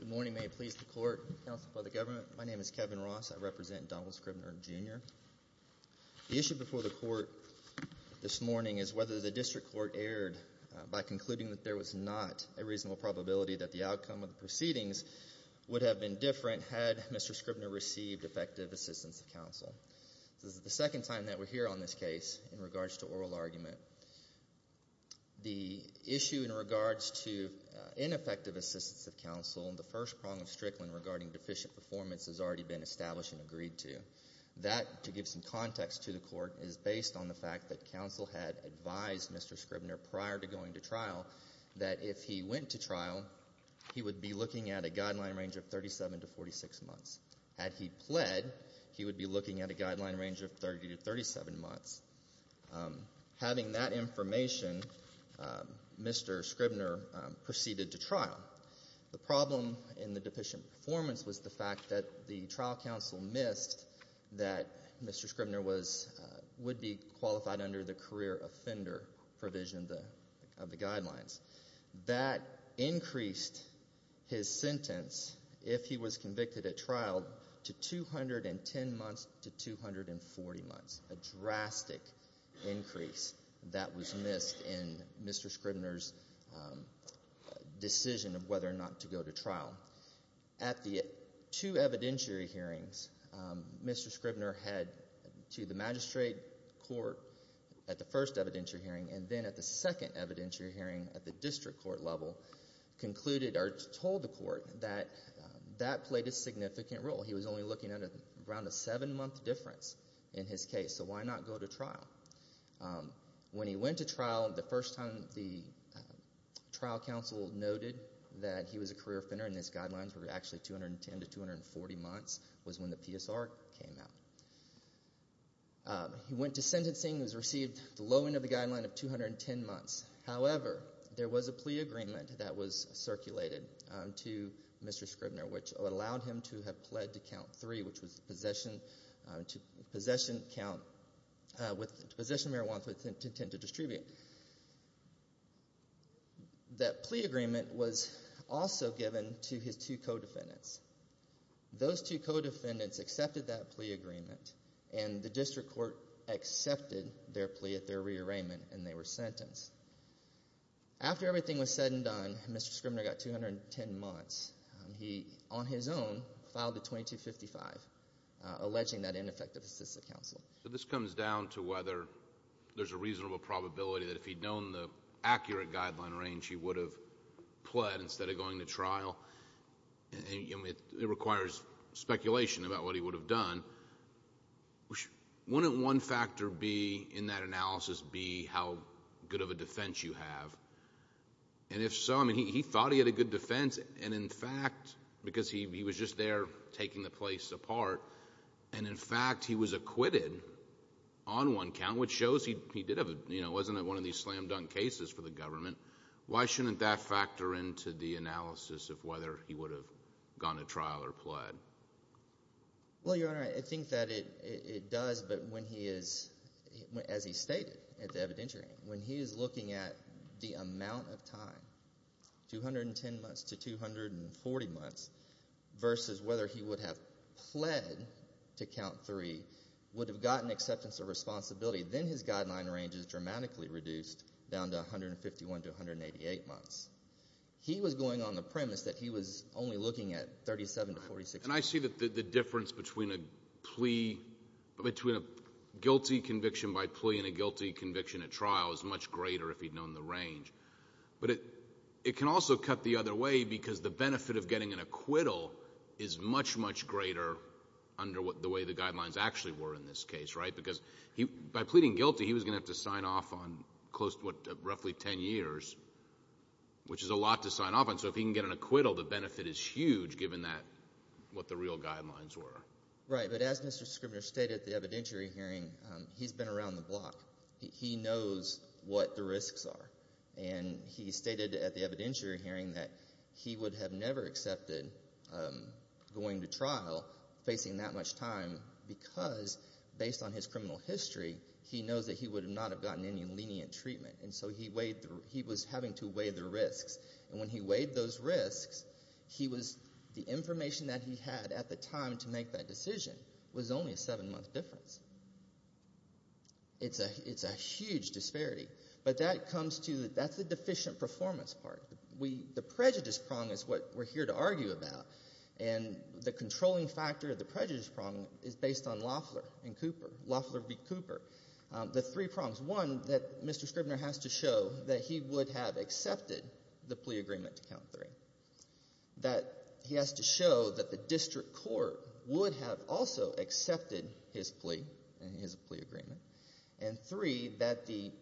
Good morning, may it please the Court, and the Council, and by the Government, my name is Kevin Ross, I represent Donald Scribner, Jr. The issue before the Court this morning is whether the District Court erred by concluding that there was not a reasonable probability that the outcome of the proceedings would have been different had Mr. Scribner received effective assistance of counsel. This is the second time that we're here on this case in regards to oral argument. The issue in regards to ineffective assistance of counsel, the first prong of Strickland regarding deficient performance has already been established and agreed to. That, to give some context to the Court, is based on the fact that counsel had advised Mr. Scribner prior to going to trial that if he went to trial, he would be looking at a guideline range of 37 to 46 months. Had he pled, he would be looking at a guideline range of 30 to 37 months. Having that information, Mr. Scribner proceeded to trial. The problem in the deficient performance was the fact that the trial counsel missed that Mr. Scribner would be qualified under the career offender provision of the guidelines. That increased his sentence, if he was convicted at trial, to 210 months to 240 months, a drastic increase that was missed in Mr. Scribner's decision of whether or not to go to trial. At the two evidentiary hearings, Mr. Scribner had, to the magistrate court at the first evidentiary hearing and then at the second evidentiary hearing at the district court level, concluded or told the court that that played a significant role. He was only looking at around a seven month difference in his case, so why not go to trial? When he went to trial, the first time the trial counsel noted that he was a career offender and his guidelines were actually 210 to 240 months was when the PSR came out. He went to sentencing and was received the low end of the guideline of 210 months. However, there was a plea agreement that was circulated to Mr. Scribner, which allowed him to have pled to count three, which was possession marijuana with intent to distribute. That plea agreement was also given to his two co-defendants. Those two co-defendants accepted that plea agreement and the district court accepted their plea at their rearrangement and they were sentenced. After everything was said and done, Mr. Scribner got 210 months. He, on his own, filed a 2255, alleging that ineffective assistance of counsel. This comes down to whether there's a reasonable probability that if he'd known the accurate guideline range, he would have pled instead of going to trial. It requires speculation about what he would have done. Wouldn't one factor in that analysis be how good of a defense you have? If so, he thought he had a good defense and in fact, because he was just there taking the place apart, and in fact he was acquitted on one count, which shows he wasn't one of these slam dunk cases for the government. Why shouldn't that factor into the analysis of whether he would have gone to trial or pled? Your Honor, I think that it does, but as he stated at the evidentiary, when he's looking at the amount of time, 210 months to 240 months, versus whether he would have pled to count three, would have gotten acceptance of responsibility, then his guideline range is dramatically reduced down to 151 to 188 months. He was going on the premise that he was only looking at 37 to 46 months. And I see that the difference between a guilty conviction by plea and a guilty conviction at trial is much greater if he'd known the range. But it can also cut the other way because the benefit of getting an acquittal is much, much greater under the way the guidelines actually were in this case, right? Because by pleading guilty, he was going to have to sign off on roughly 10 years, which is a lot to sign off on. So if he can get an acquittal, the benefit is huge given what the real guidelines were. Right, but as Mr. Scribner stated at the evidentiary hearing, he's been around the block. He knows what the risks are. And he stated at the evidentiary hearing that he would have never accepted going to trial, facing that much time, because based on his criminal history, he knows that he would not have gotten any lenient treatment. And so he was having to weigh the risks. And when he weighed those risks, the information that he had at the time to make that decision was only a 7-month difference. It's a huge disparity. But that comes to, that's the deficient performance part. The prejudice prong is what we're here to argue about. And the controlling factor of the prejudice prong is based on Loeffler and Cooper, Loeffler v. Cooper. The three prongs, one, that Mr. Scribner has to show that he would have accepted the plea that the district court would have also accepted his plea and his plea agreement, and three, that the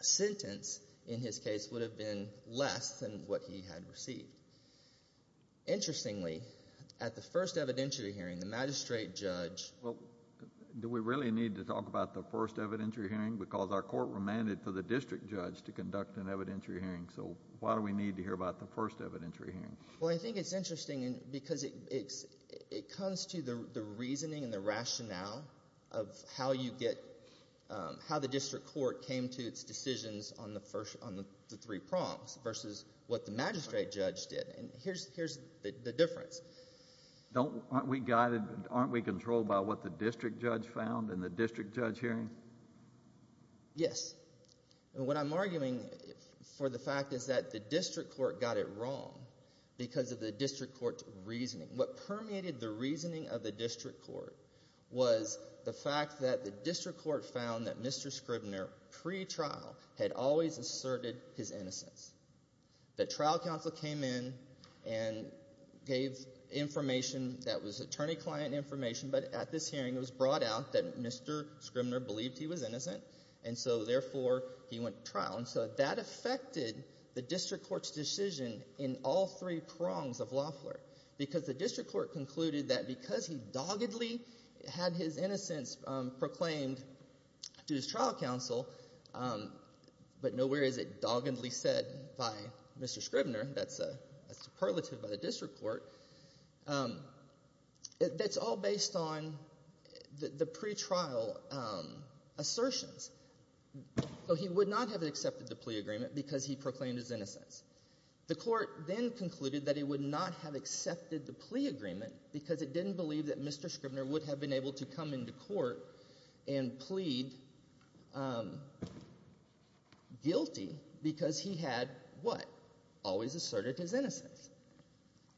sentence in his case would have been less than what he had received. Interestingly, at the first evidentiary hearing, the magistrate judge... Well, do we really need to talk about the first evidentiary hearing? Because our court remanded for the district judge to conduct an evidentiary hearing. So why do we need to hear about the first evidentiary hearing? Well, I think it's interesting because it comes to the reasoning and the rationale of how you get, how the district court came to its decisions on the first, on the three prongs versus what the magistrate judge did. And here's the difference. Don't, aren't we guided, aren't we controlled by what the district judge found in the district judge hearing? Yes. And what I'm arguing for the fact is that the district court got it wrong because of the district court's reasoning. What permeated the reasoning of the district court was the fact that the district court found that Mr. Scribner, pre-trial, had always asserted his innocence. The trial counsel came in and gave information that was attorney-client information, but at this hearing it was brought out that Mr. Scribner believed he was innocent, and so therefore he went to trial. And so that affected the district court's decision in all three prongs of Lafleur. Because the district court concluded that because he doggedly had his innocence proclaimed to his trial counsel, but nowhere is it doggedly said by Mr. Scribner, that's a superlative of the district court, that's all based on the pre-trial assertions. So he would not have accepted the plea agreement because he proclaimed his innocence. The court then concluded that he would not have accepted the plea agreement because it didn't believe that Mr. Scribner would have been able to come into court and plead guilty because he had, what, always asserted his innocence.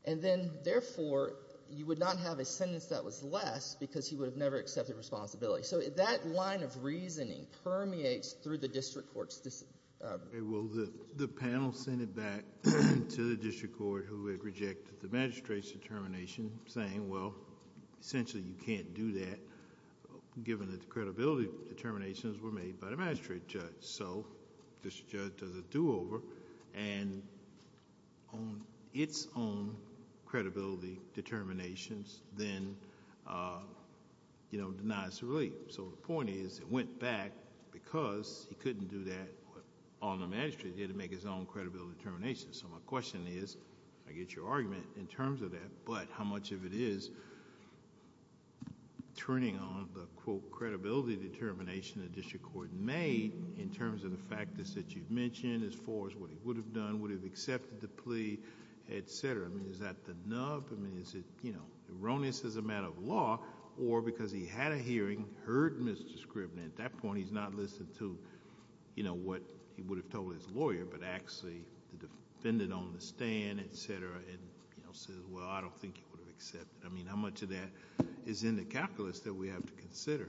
And then, therefore, you would not have a sentence that was less because he would have never accepted responsibility. So that line of reasoning permeates through the district court's decision. Okay. Well, the panel sent it back to the district court who had rejected the magistrate's determination saying, well, essentially you can't do that given that the credibility determinations were made by the magistrate judge. So the district judge does a do-over and on its own credibility determinations then, you know, denies the relief. So the point is it went back because he couldn't do that on the magistrate. He had to make his own credibility determinations. So my question is, I get your argument in terms of that, but how much of it is turning on the, quote, credibility determination the district court made in terms of the factors that you've mentioned as far as what he would have done, would have accepted the plea, et cetera? I mean, is that the nub? I mean, is it erroneous as a matter of law or because he had a hearing, heard Mr. Scribner, at that point he's not listening to what he would have told his lawyer, but actually the defendant on the stand, et cetera, and, you know, says, well, I don't think he would have accepted. I mean, how much of that is in the calculus that we have to consider?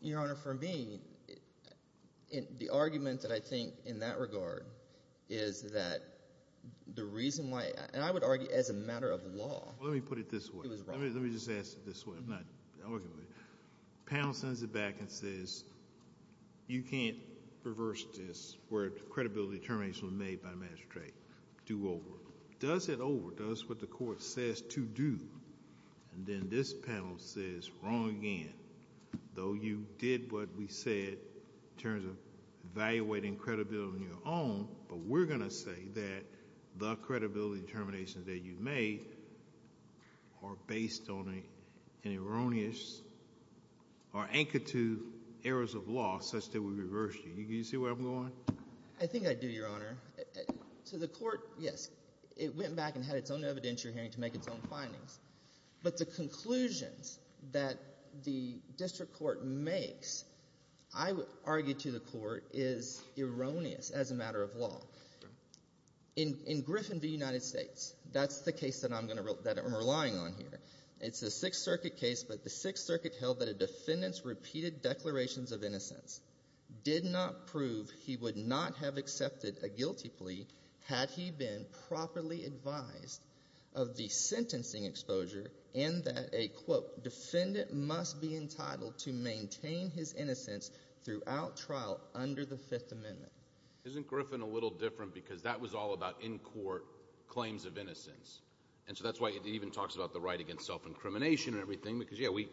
Your Honor, for me, the argument that I think in that regard is that the reason why, and I would argue as a matter of law. Well, let me put it this way. It was wrong. Let me just ask it this way. I'm not arguing. The panel sends it back and says, you can't reverse this where the credibility determination was made by Magistrate. Do over. Does it over? Does what the court says to do, and then this panel says, wrong again. Though you did what we said in terms of evaluating credibility on your own, but we're going to say that the credibility determinations that you made are based on an erroneous or anchored to errors of law such that we reversed you. Do you see where I'm going? I think I do, Your Honor. So the court, yes, it went back and had its own evidentiary hearing to make its own findings, but the conclusions that the district court makes, I would argue to the court, is erroneous as a matter of law. In Griffin v. United States, that's the case that I'm relying on here. It's a Sixth Circuit case, but the Sixth Circuit held that the defendant's repeated declarations of innocence did not prove he would not have accepted a guilty plea had he been properly advised of the sentencing exposure and that a, quote, defendant must be entitled to maintain his innocence throughout trial under the Fifth Amendment. Isn't Griffin a little different because that was all about, in court, claims of innocence? And so that's why it even talks about the right against self-incrimination and everything because, yeah, we,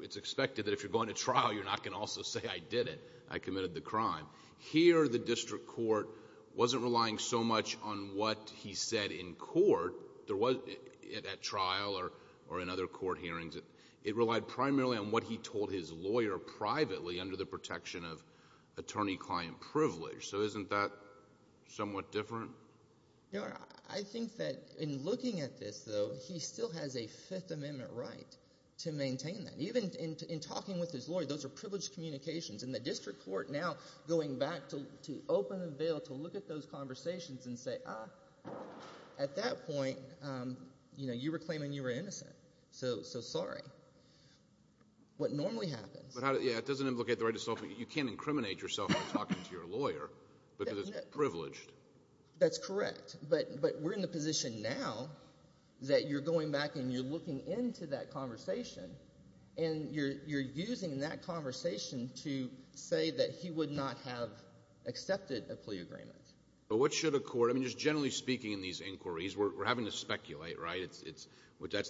it's expected that if you're going to trial, you're not going to also say, I did it. I committed the crime. Here, the district court wasn't relying so much on what he said in court. There was, at trial or in other court hearings, it relied primarily on what he told his lawyer privately under the protection of attorney-client privilege. So isn't that somewhat different? No, I think that in looking at this, though, he still has a Fifth Amendment right to maintain that. Even in talking with his lawyer, those are privileged communications, and the district court now going back to open a bill to look at those conversations and say, ah, at that point, you know, you were claiming you were innocent. So, so sorry. What normally happens. But how, yeah, it doesn't implicate the right to self-incrimination. You can't incriminate yourself by talking to your lawyer because it's privileged. That's correct. But, but we're in the position now that you're going back and you're looking into that conversation, and you're, you're using that conversation to say that he would not have accepted a plea agreement. But what should a court, I mean, just generally speaking in these inquiries, we're, we're having to speculate, right? It's, it's,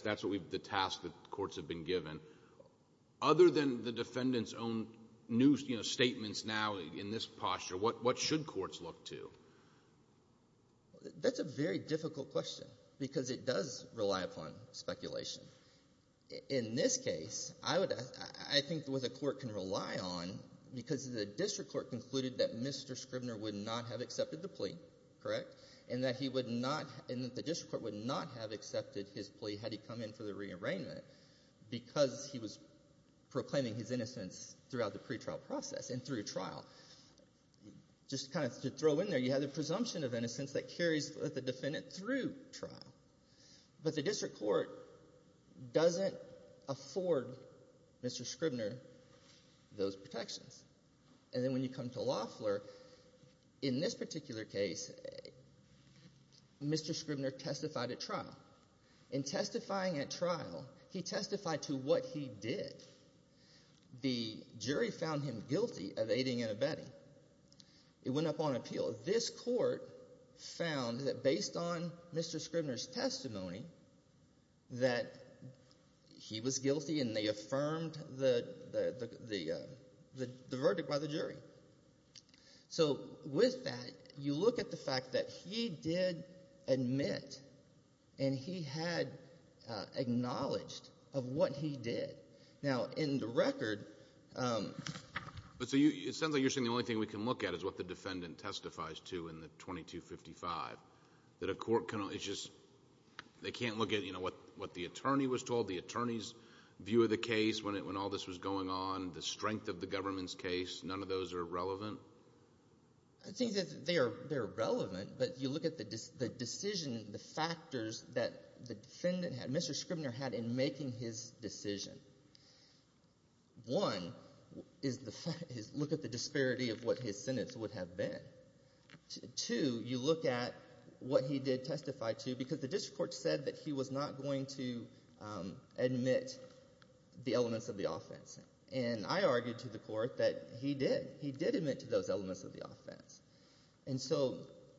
that's what we've, the task that courts have been given. Other than the defendant's own new, you know, statements now in this posture, what, what should courts look to? That's a very difficult question, because it does rely upon speculation. In this case, I would, I think what the court can rely on, because the district court concluded that Mr. Scribner would not have accepted the plea, correct? And that he would not, and that the district court would not have accepted his plea had he come in for the re-arraignment because he was proclaiming his innocence throughout the pretrial process and through trial. Just kind of to throw in there, you have the presumption of innocence that carries with the defendant through trial. But the district court doesn't afford Mr. Scribner those protections. And then when you come to Loeffler, in this particular case, Mr. Scribner testified at trial. In testifying at trial, he testified to what he did. The jury found him guilty of aiding and abetting. It went up on appeal. This court found that based on Mr. Scribner's testimony, that he was guilty and they affirmed the, the, the, the verdict by the jury. So with that, you look at the fact that he did admit and he had acknowledged of what he did. Now, in the record, um... But so you, it sounds like you're saying the only thing we can look at is what the defendant testifies to in the 2255. That a court can only, it's just, they can't look at, you know, what, what the attorney was told, the attorney's view of the case when it, when all this was going on, the strength of the government's case, none of those are relevant? I think that they are, they're relevant, but you look at the decision, the factors that the defendant had, Mr. Scribner had in making his decision. One is the fact, is look at the disparity of what his sentence would have been. Two, you look at what he did testify to because the district court said that he was not going to, um, admit the elements of the offense. And I argued to the court that he did, he did admit to those elements of the offense,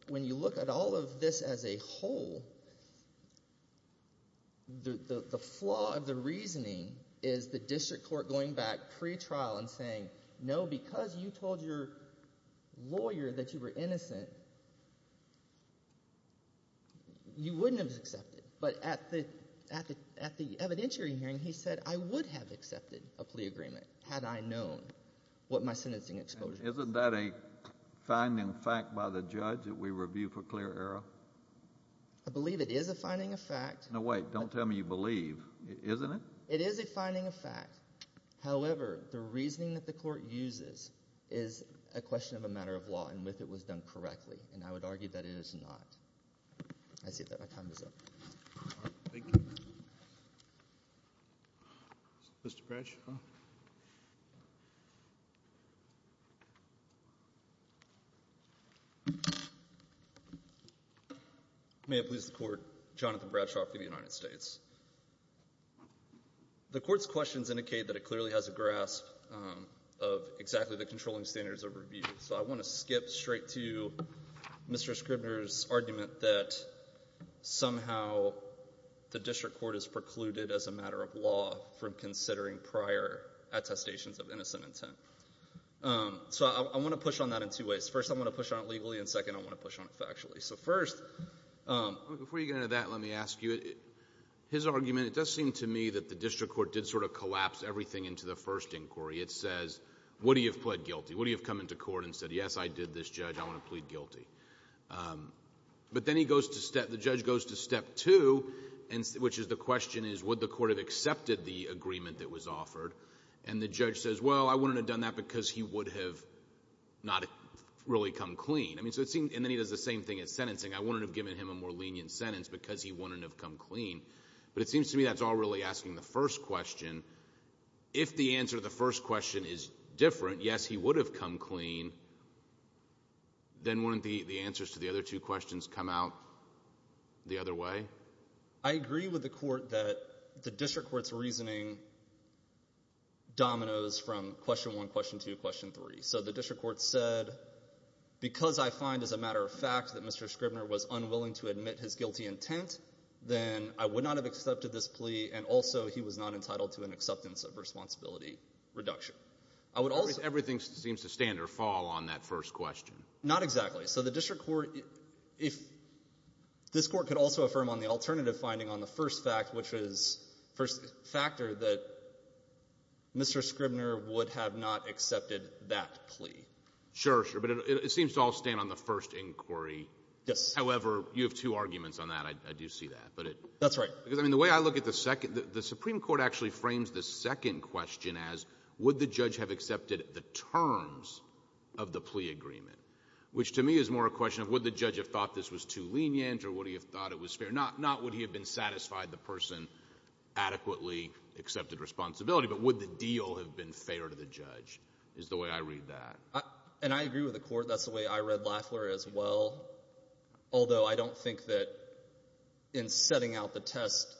but as a whole, the, the flaw of the reasoning is the district court going back pre-trial and saying, no, because you told your lawyer that you were innocent, you wouldn't have accepted. But at the, at the evidentiary hearing, he said, I would have accepted a plea agreement had I known what my sentencing exposure was. Isn't that a finding of fact by the judge that we review for clear error? I believe it is a finding of fact. No, wait, don't tell me you believe. Isn't it? It is a finding of fact. However, the reasoning that the court uses is a question of a matter of law and if it was done correctly, and I would argue that it is not. I see that my time is up. Thank you. Mr. Branch? May it please the court, Jonathan Bradshaw for the United States. The court's questions indicate that it clearly has a grasp of exactly the controlling standards of review. So I want to skip straight to Mr. Scribner's argument that somehow the district court is precluded as a matter of law from considering prior attestations of innocent intent. So I want to push on that in two ways. First, I want to push on it legally, and second, I want to push on it factually. So first, before you get into that, let me ask you, his argument, it does seem to me that the district court did sort of collapse everything into the first inquiry. It says, would he have pled guilty? Would he have come into court and said, yes, I did this, Judge, I want to plead guilty? But then he goes to step, the judge goes to step two, which is the question is would the court have accepted the agreement that was offered? And the judge says, well, I wouldn't have done that because he would have not really come clean. I mean, so it seems, and then he does the same thing in sentencing, I wouldn't have given him a more lenient sentence because he wouldn't have come clean. But it seems to me that's all really asking the first question. If the answer to the first question is different, yes, he would have come clean, then wouldn't the answers to the other two questions come out the other way? I agree with the court that the district court's reasoning dominoes from question one, question two, question three. So the district court said, because I find, as a matter of fact, that Mr. Scribner was unwilling to admit his guilty intent, then I would not have accepted this plea, and also he was not entitled to an acceptance of responsibility reduction. I would also ---- Everything seems to stand or fall on that first question. Not exactly. So the district court, if this Court could also affirm on the alternative finding on the first fact, which is the first factor that Mr. Scribner would have not accepted that plea. Sure, sure. But it seems to all stand on the first inquiry. Yes. However, you have two arguments on that. I do see that. That's right. Because, I mean, the way I look at the second, the Supreme Court actually frames the second question as would the judge have accepted the terms of the plea agreement, which to me is more a question of would the judge have thought this was too lenient or would he have thought it was fair. Not would he have been satisfied the person adequately accepted responsibility, but would the deal have been fair to the judge is the way I read that. And I agree with the court. That's the way I read Lafler as well, although I don't think that in setting out the test,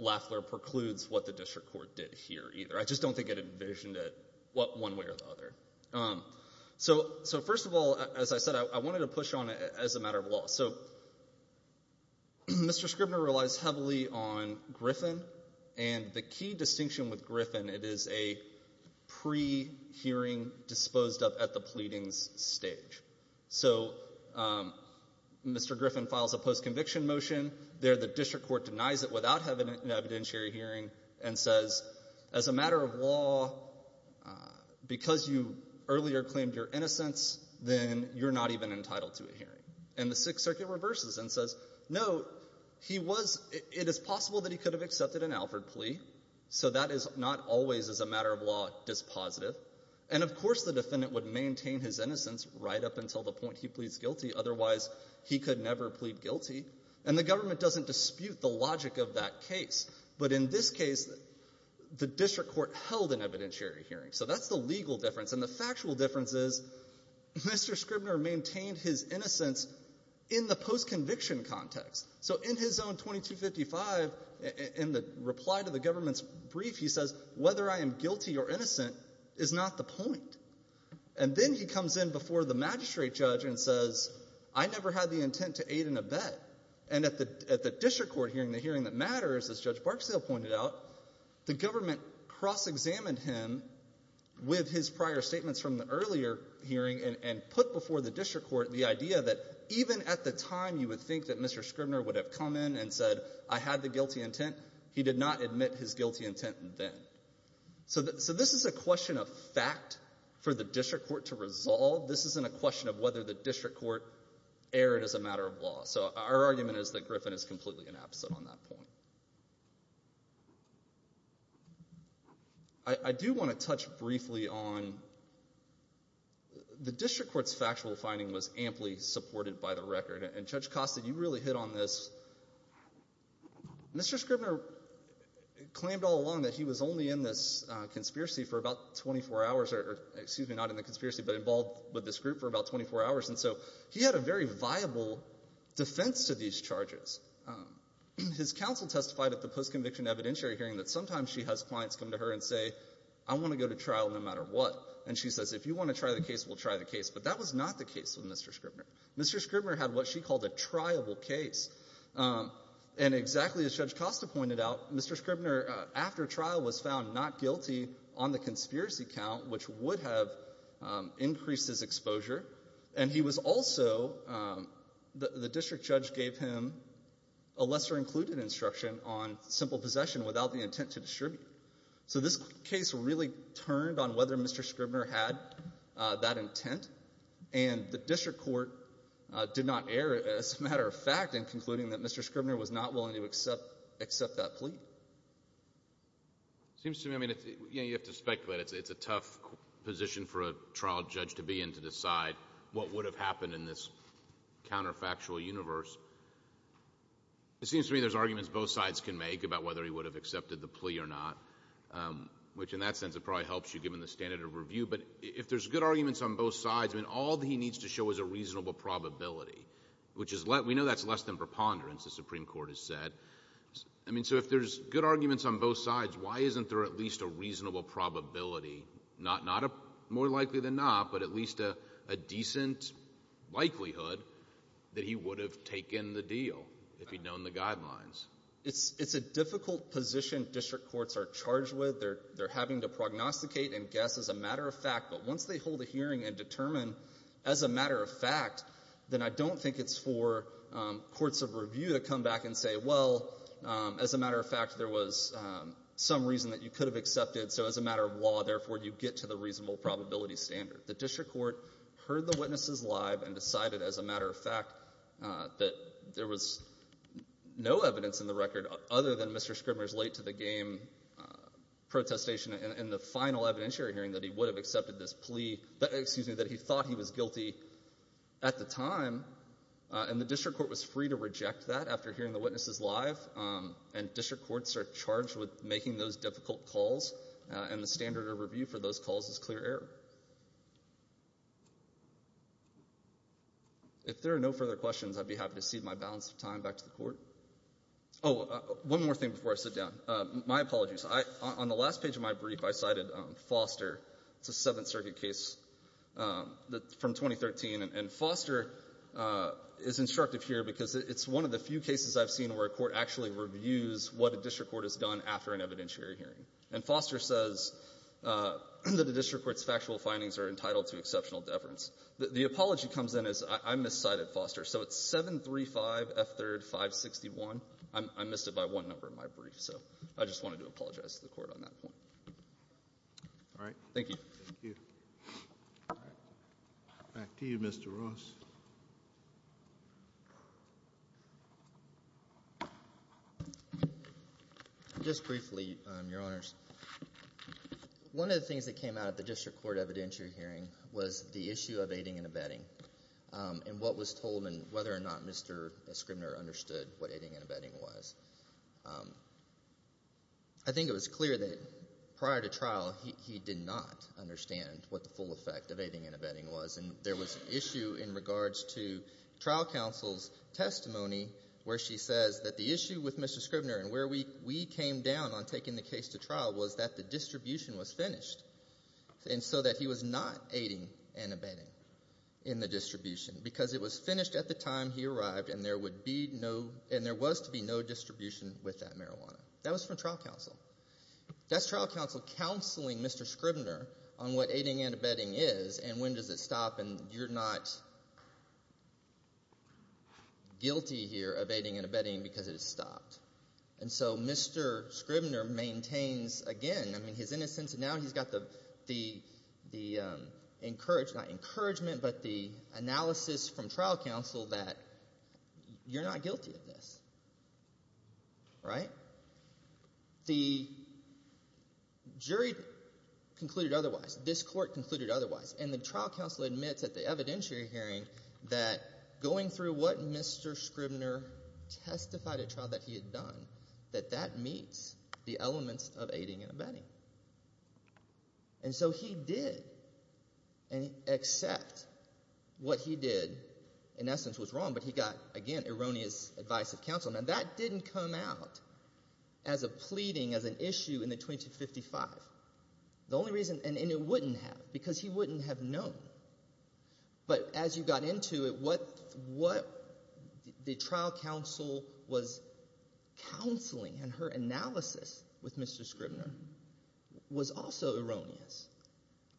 Lafler precludes what the district court did here either. I just don't think it envisioned it one way or the other. So first of all, as I said, I wanted to push on it as a matter of law. So Mr. Scribner relies heavily on Griffin, and the key distinction with Griffin, it is a pre-hearing disposed of at the pleadings stage. So Mr. Griffin files a post-conviction motion there. The district court denies it without having an evidentiary hearing and says, as a matter of law, because you earlier claimed your innocence, then you're not even entitled to a hearing. And the Sixth Circuit reverses and says, no, he was – it is possible that he could have accepted an Alford plea, so that is not always as a matter of law dispositive. And of course the defendant would maintain his innocence right up until the point he pleads guilty. Otherwise, he could never plead guilty. And the government doesn't dispute the logic of that case. But in this case, the district court held an evidentiary hearing. So that's the legal difference. And the factual difference is Mr. Scribner maintained his innocence in the post-conviction context. So in his own 2255, in the reply to the government's brief, he says, whether I am guilty or innocent is not the point. And then he comes in before the magistrate judge and says, I never had the intent to aid in a bet. And at the district court hearing, the hearing that matters, as Judge Barksdale pointed out, the government cross-examined him with his prior statements from the earlier hearing and put before the district court the idea that even at the time you would think that Mr. Scribner would have come in and said, I had the guilty intent, he did not admit his guilty intent then. So this is a question of fact for the district court to resolve. This isn't a question of whether the district court erred as a matter of law. So our argument is that Griffin is completely inabsent on that point. I do want to touch briefly on the district court's factual finding was amply supported by the record. And, Judge Costa, you really hit on this. Mr. Scribner claimed all along that he was only in this conspiracy for about 24 hours, or excuse me, not in the conspiracy, but involved with this group for about 24 hours. And so he had a very viable defense to these charges. His counsel testified at the post-conviction evidentiary hearing that sometimes she has clients come to her and say, I want to go to trial no matter what. And she says, if you want to try the case, we'll try the case. But that was not the case with Mr. Scribner. Mr. Scribner had what she called a triable case. And exactly as Judge Costa pointed out, Mr. Scribner, after trial, was found not guilty on the conspiracy count, which would have increased his exposure. And he was also, the district judge gave him a lesser included instruction on simple possession without the intent to distribute. So this case really turned on whether Mr. Scribner had that intent. And the district court did not err, as a matter of fact, in concluding that Mr. Scribner was not willing to accept that plea. It seems to me, I mean, you have to speculate. It's a tough position for a trial judge to be in to decide what would have happened in this counterfactual universe. It seems to me there's arguments both sides can make about whether he would have accepted the plea or not, which in that sense it probably helps you given the standard of review. But if there's good arguments on both sides, I mean, all he needs to show is a reasonable probability, which we know that's less than preponderance, the Supreme Court has said. I mean, so if there's good arguments on both sides, why isn't there at least a reasonable probability, not more likely than not, but at least a decent likelihood that he would have taken the deal if he'd known the guidelines? It's a difficult position district courts are charged with. They're having to prognosticate and guess as a matter of fact. But once they hold a hearing and determine as a matter of fact, then I don't think it's for courts of review to come back and say, well, as a matter of fact, there was some reason that you could have accepted, so as a matter of law, therefore you get to the reasonable probability standard. The district court heard the witnesses live and decided as a matter of fact that there was no evidence in the record other than Mr. Scribner's late-to-the-game protestation in the final evidentiary hearing that he would have accepted this plea that he thought he was guilty at the time, and the district court was free to reject that after hearing the witnesses live, and district courts are charged with making those difficult calls, and the standard of review for those calls is clear error. If there are no further questions, I'd be happy to cede my balance of time back to the court. Oh, one more thing before I sit down. My apologies. On the last page of my brief, I cited Foster. It's a Seventh Circuit case from 2013. And Foster is instructive here because it's one of the few cases I've seen where a court actually reviews what a district court has done after an evidentiary hearing. And Foster says that the district court's factual findings are entitled to exceptional deference. The apology comes in as I miscited Foster. So it's 735 F3rd 561. I miscited by one number in my brief, so I just wanted to apologize to the court on that point. All right. Thank you. Thank you. Back to you, Mr. Ross. Just briefly, Your Honors. One of the things that came out of the district court evidentiary hearing was the issue of aiding and abetting and what was told and whether or not Mr. Scribner understood what aiding and abetting was. I think it was clear that prior to trial, he did not understand what the full effect of aiding and abetting was. And there was an issue in regards to trial counsel's testimony where she says that the issue with Mr. Scribner and where we came down on taking the case to trial was that the distribution was finished, and so that he was not aiding and abetting in the distribution because it was finished at the time he arrived and there was to be no distribution with that marijuana. That was from trial counsel. That's trial counsel counseling Mr. Scribner on what aiding and abetting is and when does it stop and you're not guilty here of aiding and abetting because it is stopped. And so Mr. Scribner maintains again, I mean, his innocence, and now he's got the encouragement, but the analysis from trial counsel that you're not guilty of this, right? The jury concluded otherwise. This court concluded otherwise, and the trial counsel admits at the evidentiary hearing that going through what Mr. Scribner testified at trial that he had done, that that meets the elements of aiding and abetting. And so he did accept what he did in essence was wrong, but he got, again, erroneous advice of counsel. Now, that didn't come out as a pleading, as an issue in the 2255. The only reason, and it wouldn't have because he wouldn't have known. But as you got into it, what the trial counsel was counseling and her analysis with Mr. Scribner was also erroneous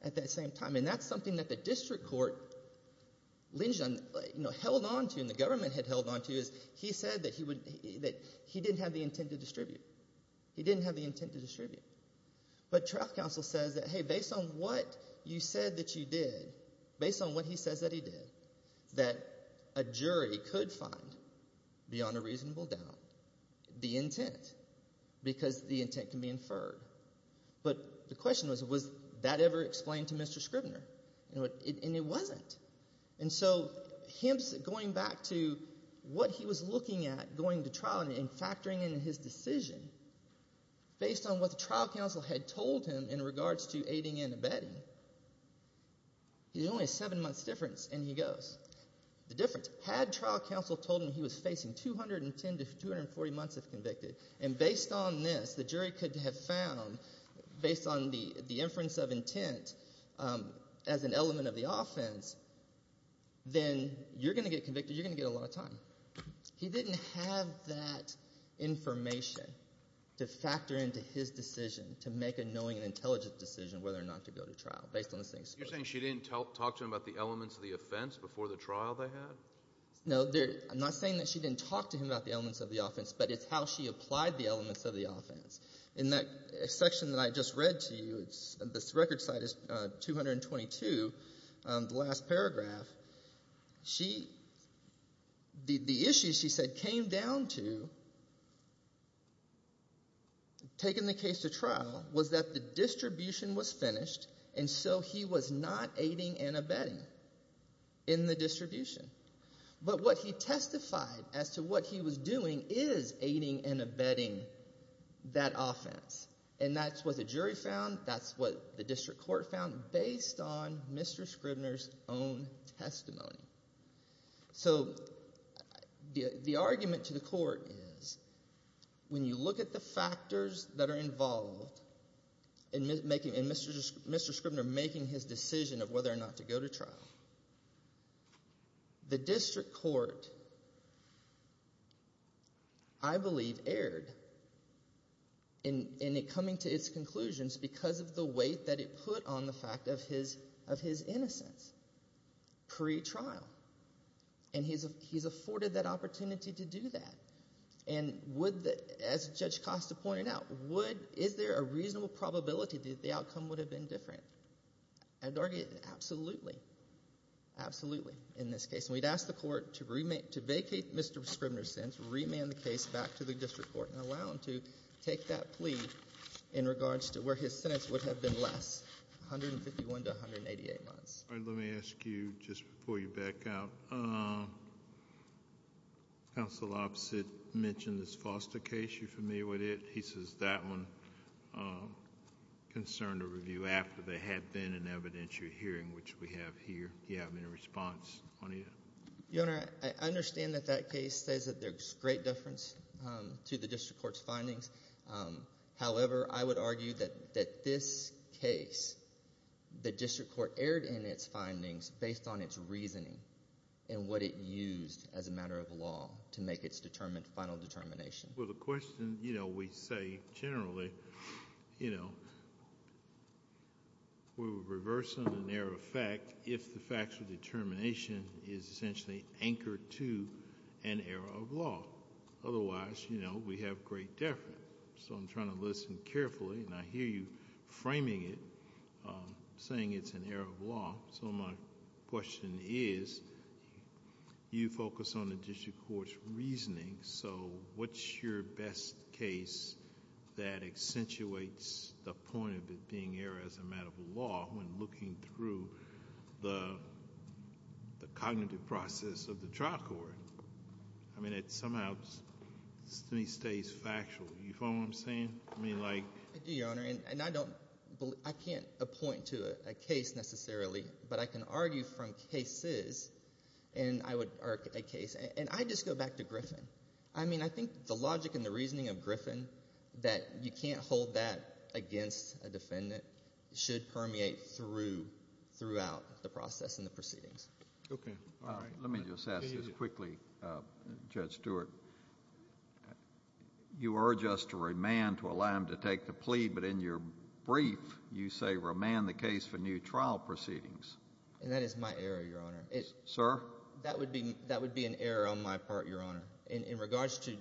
at that same time, and that's something that the district court held onto and the government had held onto is he said that he didn't have the intent to distribute. He didn't have the intent to distribute. But trial counsel says that, hey, based on what you said that you did, based on what he says that he did, that a jury could find beyond a reasonable doubt the intent because the intent can be inferred. But the question was, was that ever explained to Mr. Scribner? And it wasn't. And so him going back to what he was looking at going to trial and factoring in his decision, based on what the trial counsel had told him in regards to aiding and abetting, there's only a seven-month difference, and he goes. The difference, had trial counsel told him he was facing 210 to 240 months if convicted, and based on this the jury could have found, based on the inference of intent as an element of the offense, then you're going to get convicted, you're going to get a lot of time. He didn't have that information to factor into his decision to make a knowing and intelligent decision whether or not to go to trial, based on this thing. You're saying she didn't talk to him about the elements of the offense before the trial they had? No. I'm not saying that she didn't talk to him about the elements of the offense, but it's how she applied the elements of the offense. In that section that I just read to you, this record site is 222, the last paragraph. The issue she said came down to, taking the case to trial, was that the distribution was finished, and so he was not aiding and abetting in the distribution. But what he testified as to what he was doing is aiding and abetting that offense, and that's what the jury found, that's what the district court found, based on Mr. Scribner's own testimony. So the argument to the court is when you look at the factors that are involved in Mr. Scribner making his decision of whether or not to go to trial, the district court, I believe, erred in it coming to its conclusions because of the weight that it put on the fact of his innocence pre-trial, and he's afforded that opportunity to do that. And as Judge Costa pointed out, is there a reasonable probability that the outcome would have been different? I'd argue absolutely, absolutely, in this case. And we'd ask the court to vacate Mr. Scribner's sentence, remand the case back to the district court, and allow him to take that plea in regards to where his sentence would have been less, 151 to 188 months. All right, let me ask you, just before you back out, Counsel Opposite mentioned this Foster case. You familiar with it? He says that one concerned a review after there had been an evidentiary hearing, which we have here. Do you have any response on it? Your Honor, I understand that that case says that there's great deference to the district court's findings. However, I would argue that this case, the district court erred in its findings based on its reasoning and what it used as a matter of law to make its final determination. Well, the question, you know, we say generally, you know, we would reverse an error of fact if the facts of determination is essentially anchored to an error of law. Otherwise, you know, we have great deference. So I'm trying to listen carefully, and I hear you framing it, saying it's an error of law. So my question is, you focus on the district court's reasoning, so what's your best case that accentuates the point of it being error as a matter of law when looking through the cognitive process of the trial court? I mean, it somehow stays factual. You follow what I'm saying? I mean, like— I do, Your Honor, and I can't point to a case necessarily, but I can argue from cases, and I would argue a case. And I just go back to Griffin. I mean, I think the logic and the reasoning of Griffin, that you can't hold that against a defendant, should permeate throughout the process and the proceedings. Okay. Let me just ask this quickly, Judge Stewart. You urge us to remand, to allow him to take the plea, but in your brief you say remand the case for new trial proceedings. And that is my error, Your Honor. Sir? That would be an error on my part, Your Honor. In regards to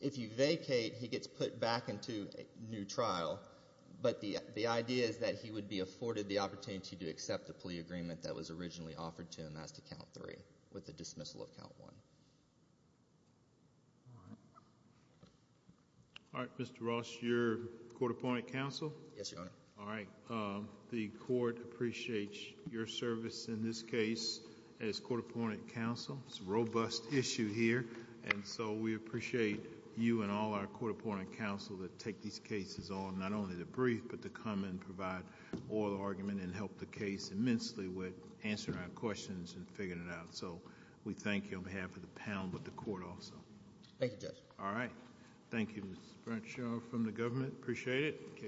if you vacate, he gets put back into a new trial, but the idea is that he would be afforded the opportunity to accept the plea agreement that was originally offered to him, and that's to count three, with the dismissal of count one. All right. All right. Mr. Ross, you're court-appointed counsel? Yes, Your Honor. All right. The Court appreciates your service in this case as court-appointed counsel. It's a robust issue here, and so we appreciate you and all our court-appointed counsel that take these cases on, not only the brief, but to come and provide oral argument and help the case immensely with answering our questions and figuring it out. So we thank you on behalf of the panel, but the Court also. Thank you, Judge. All right. Thank you, Mr. Brentshaw, from the government. Appreciate it.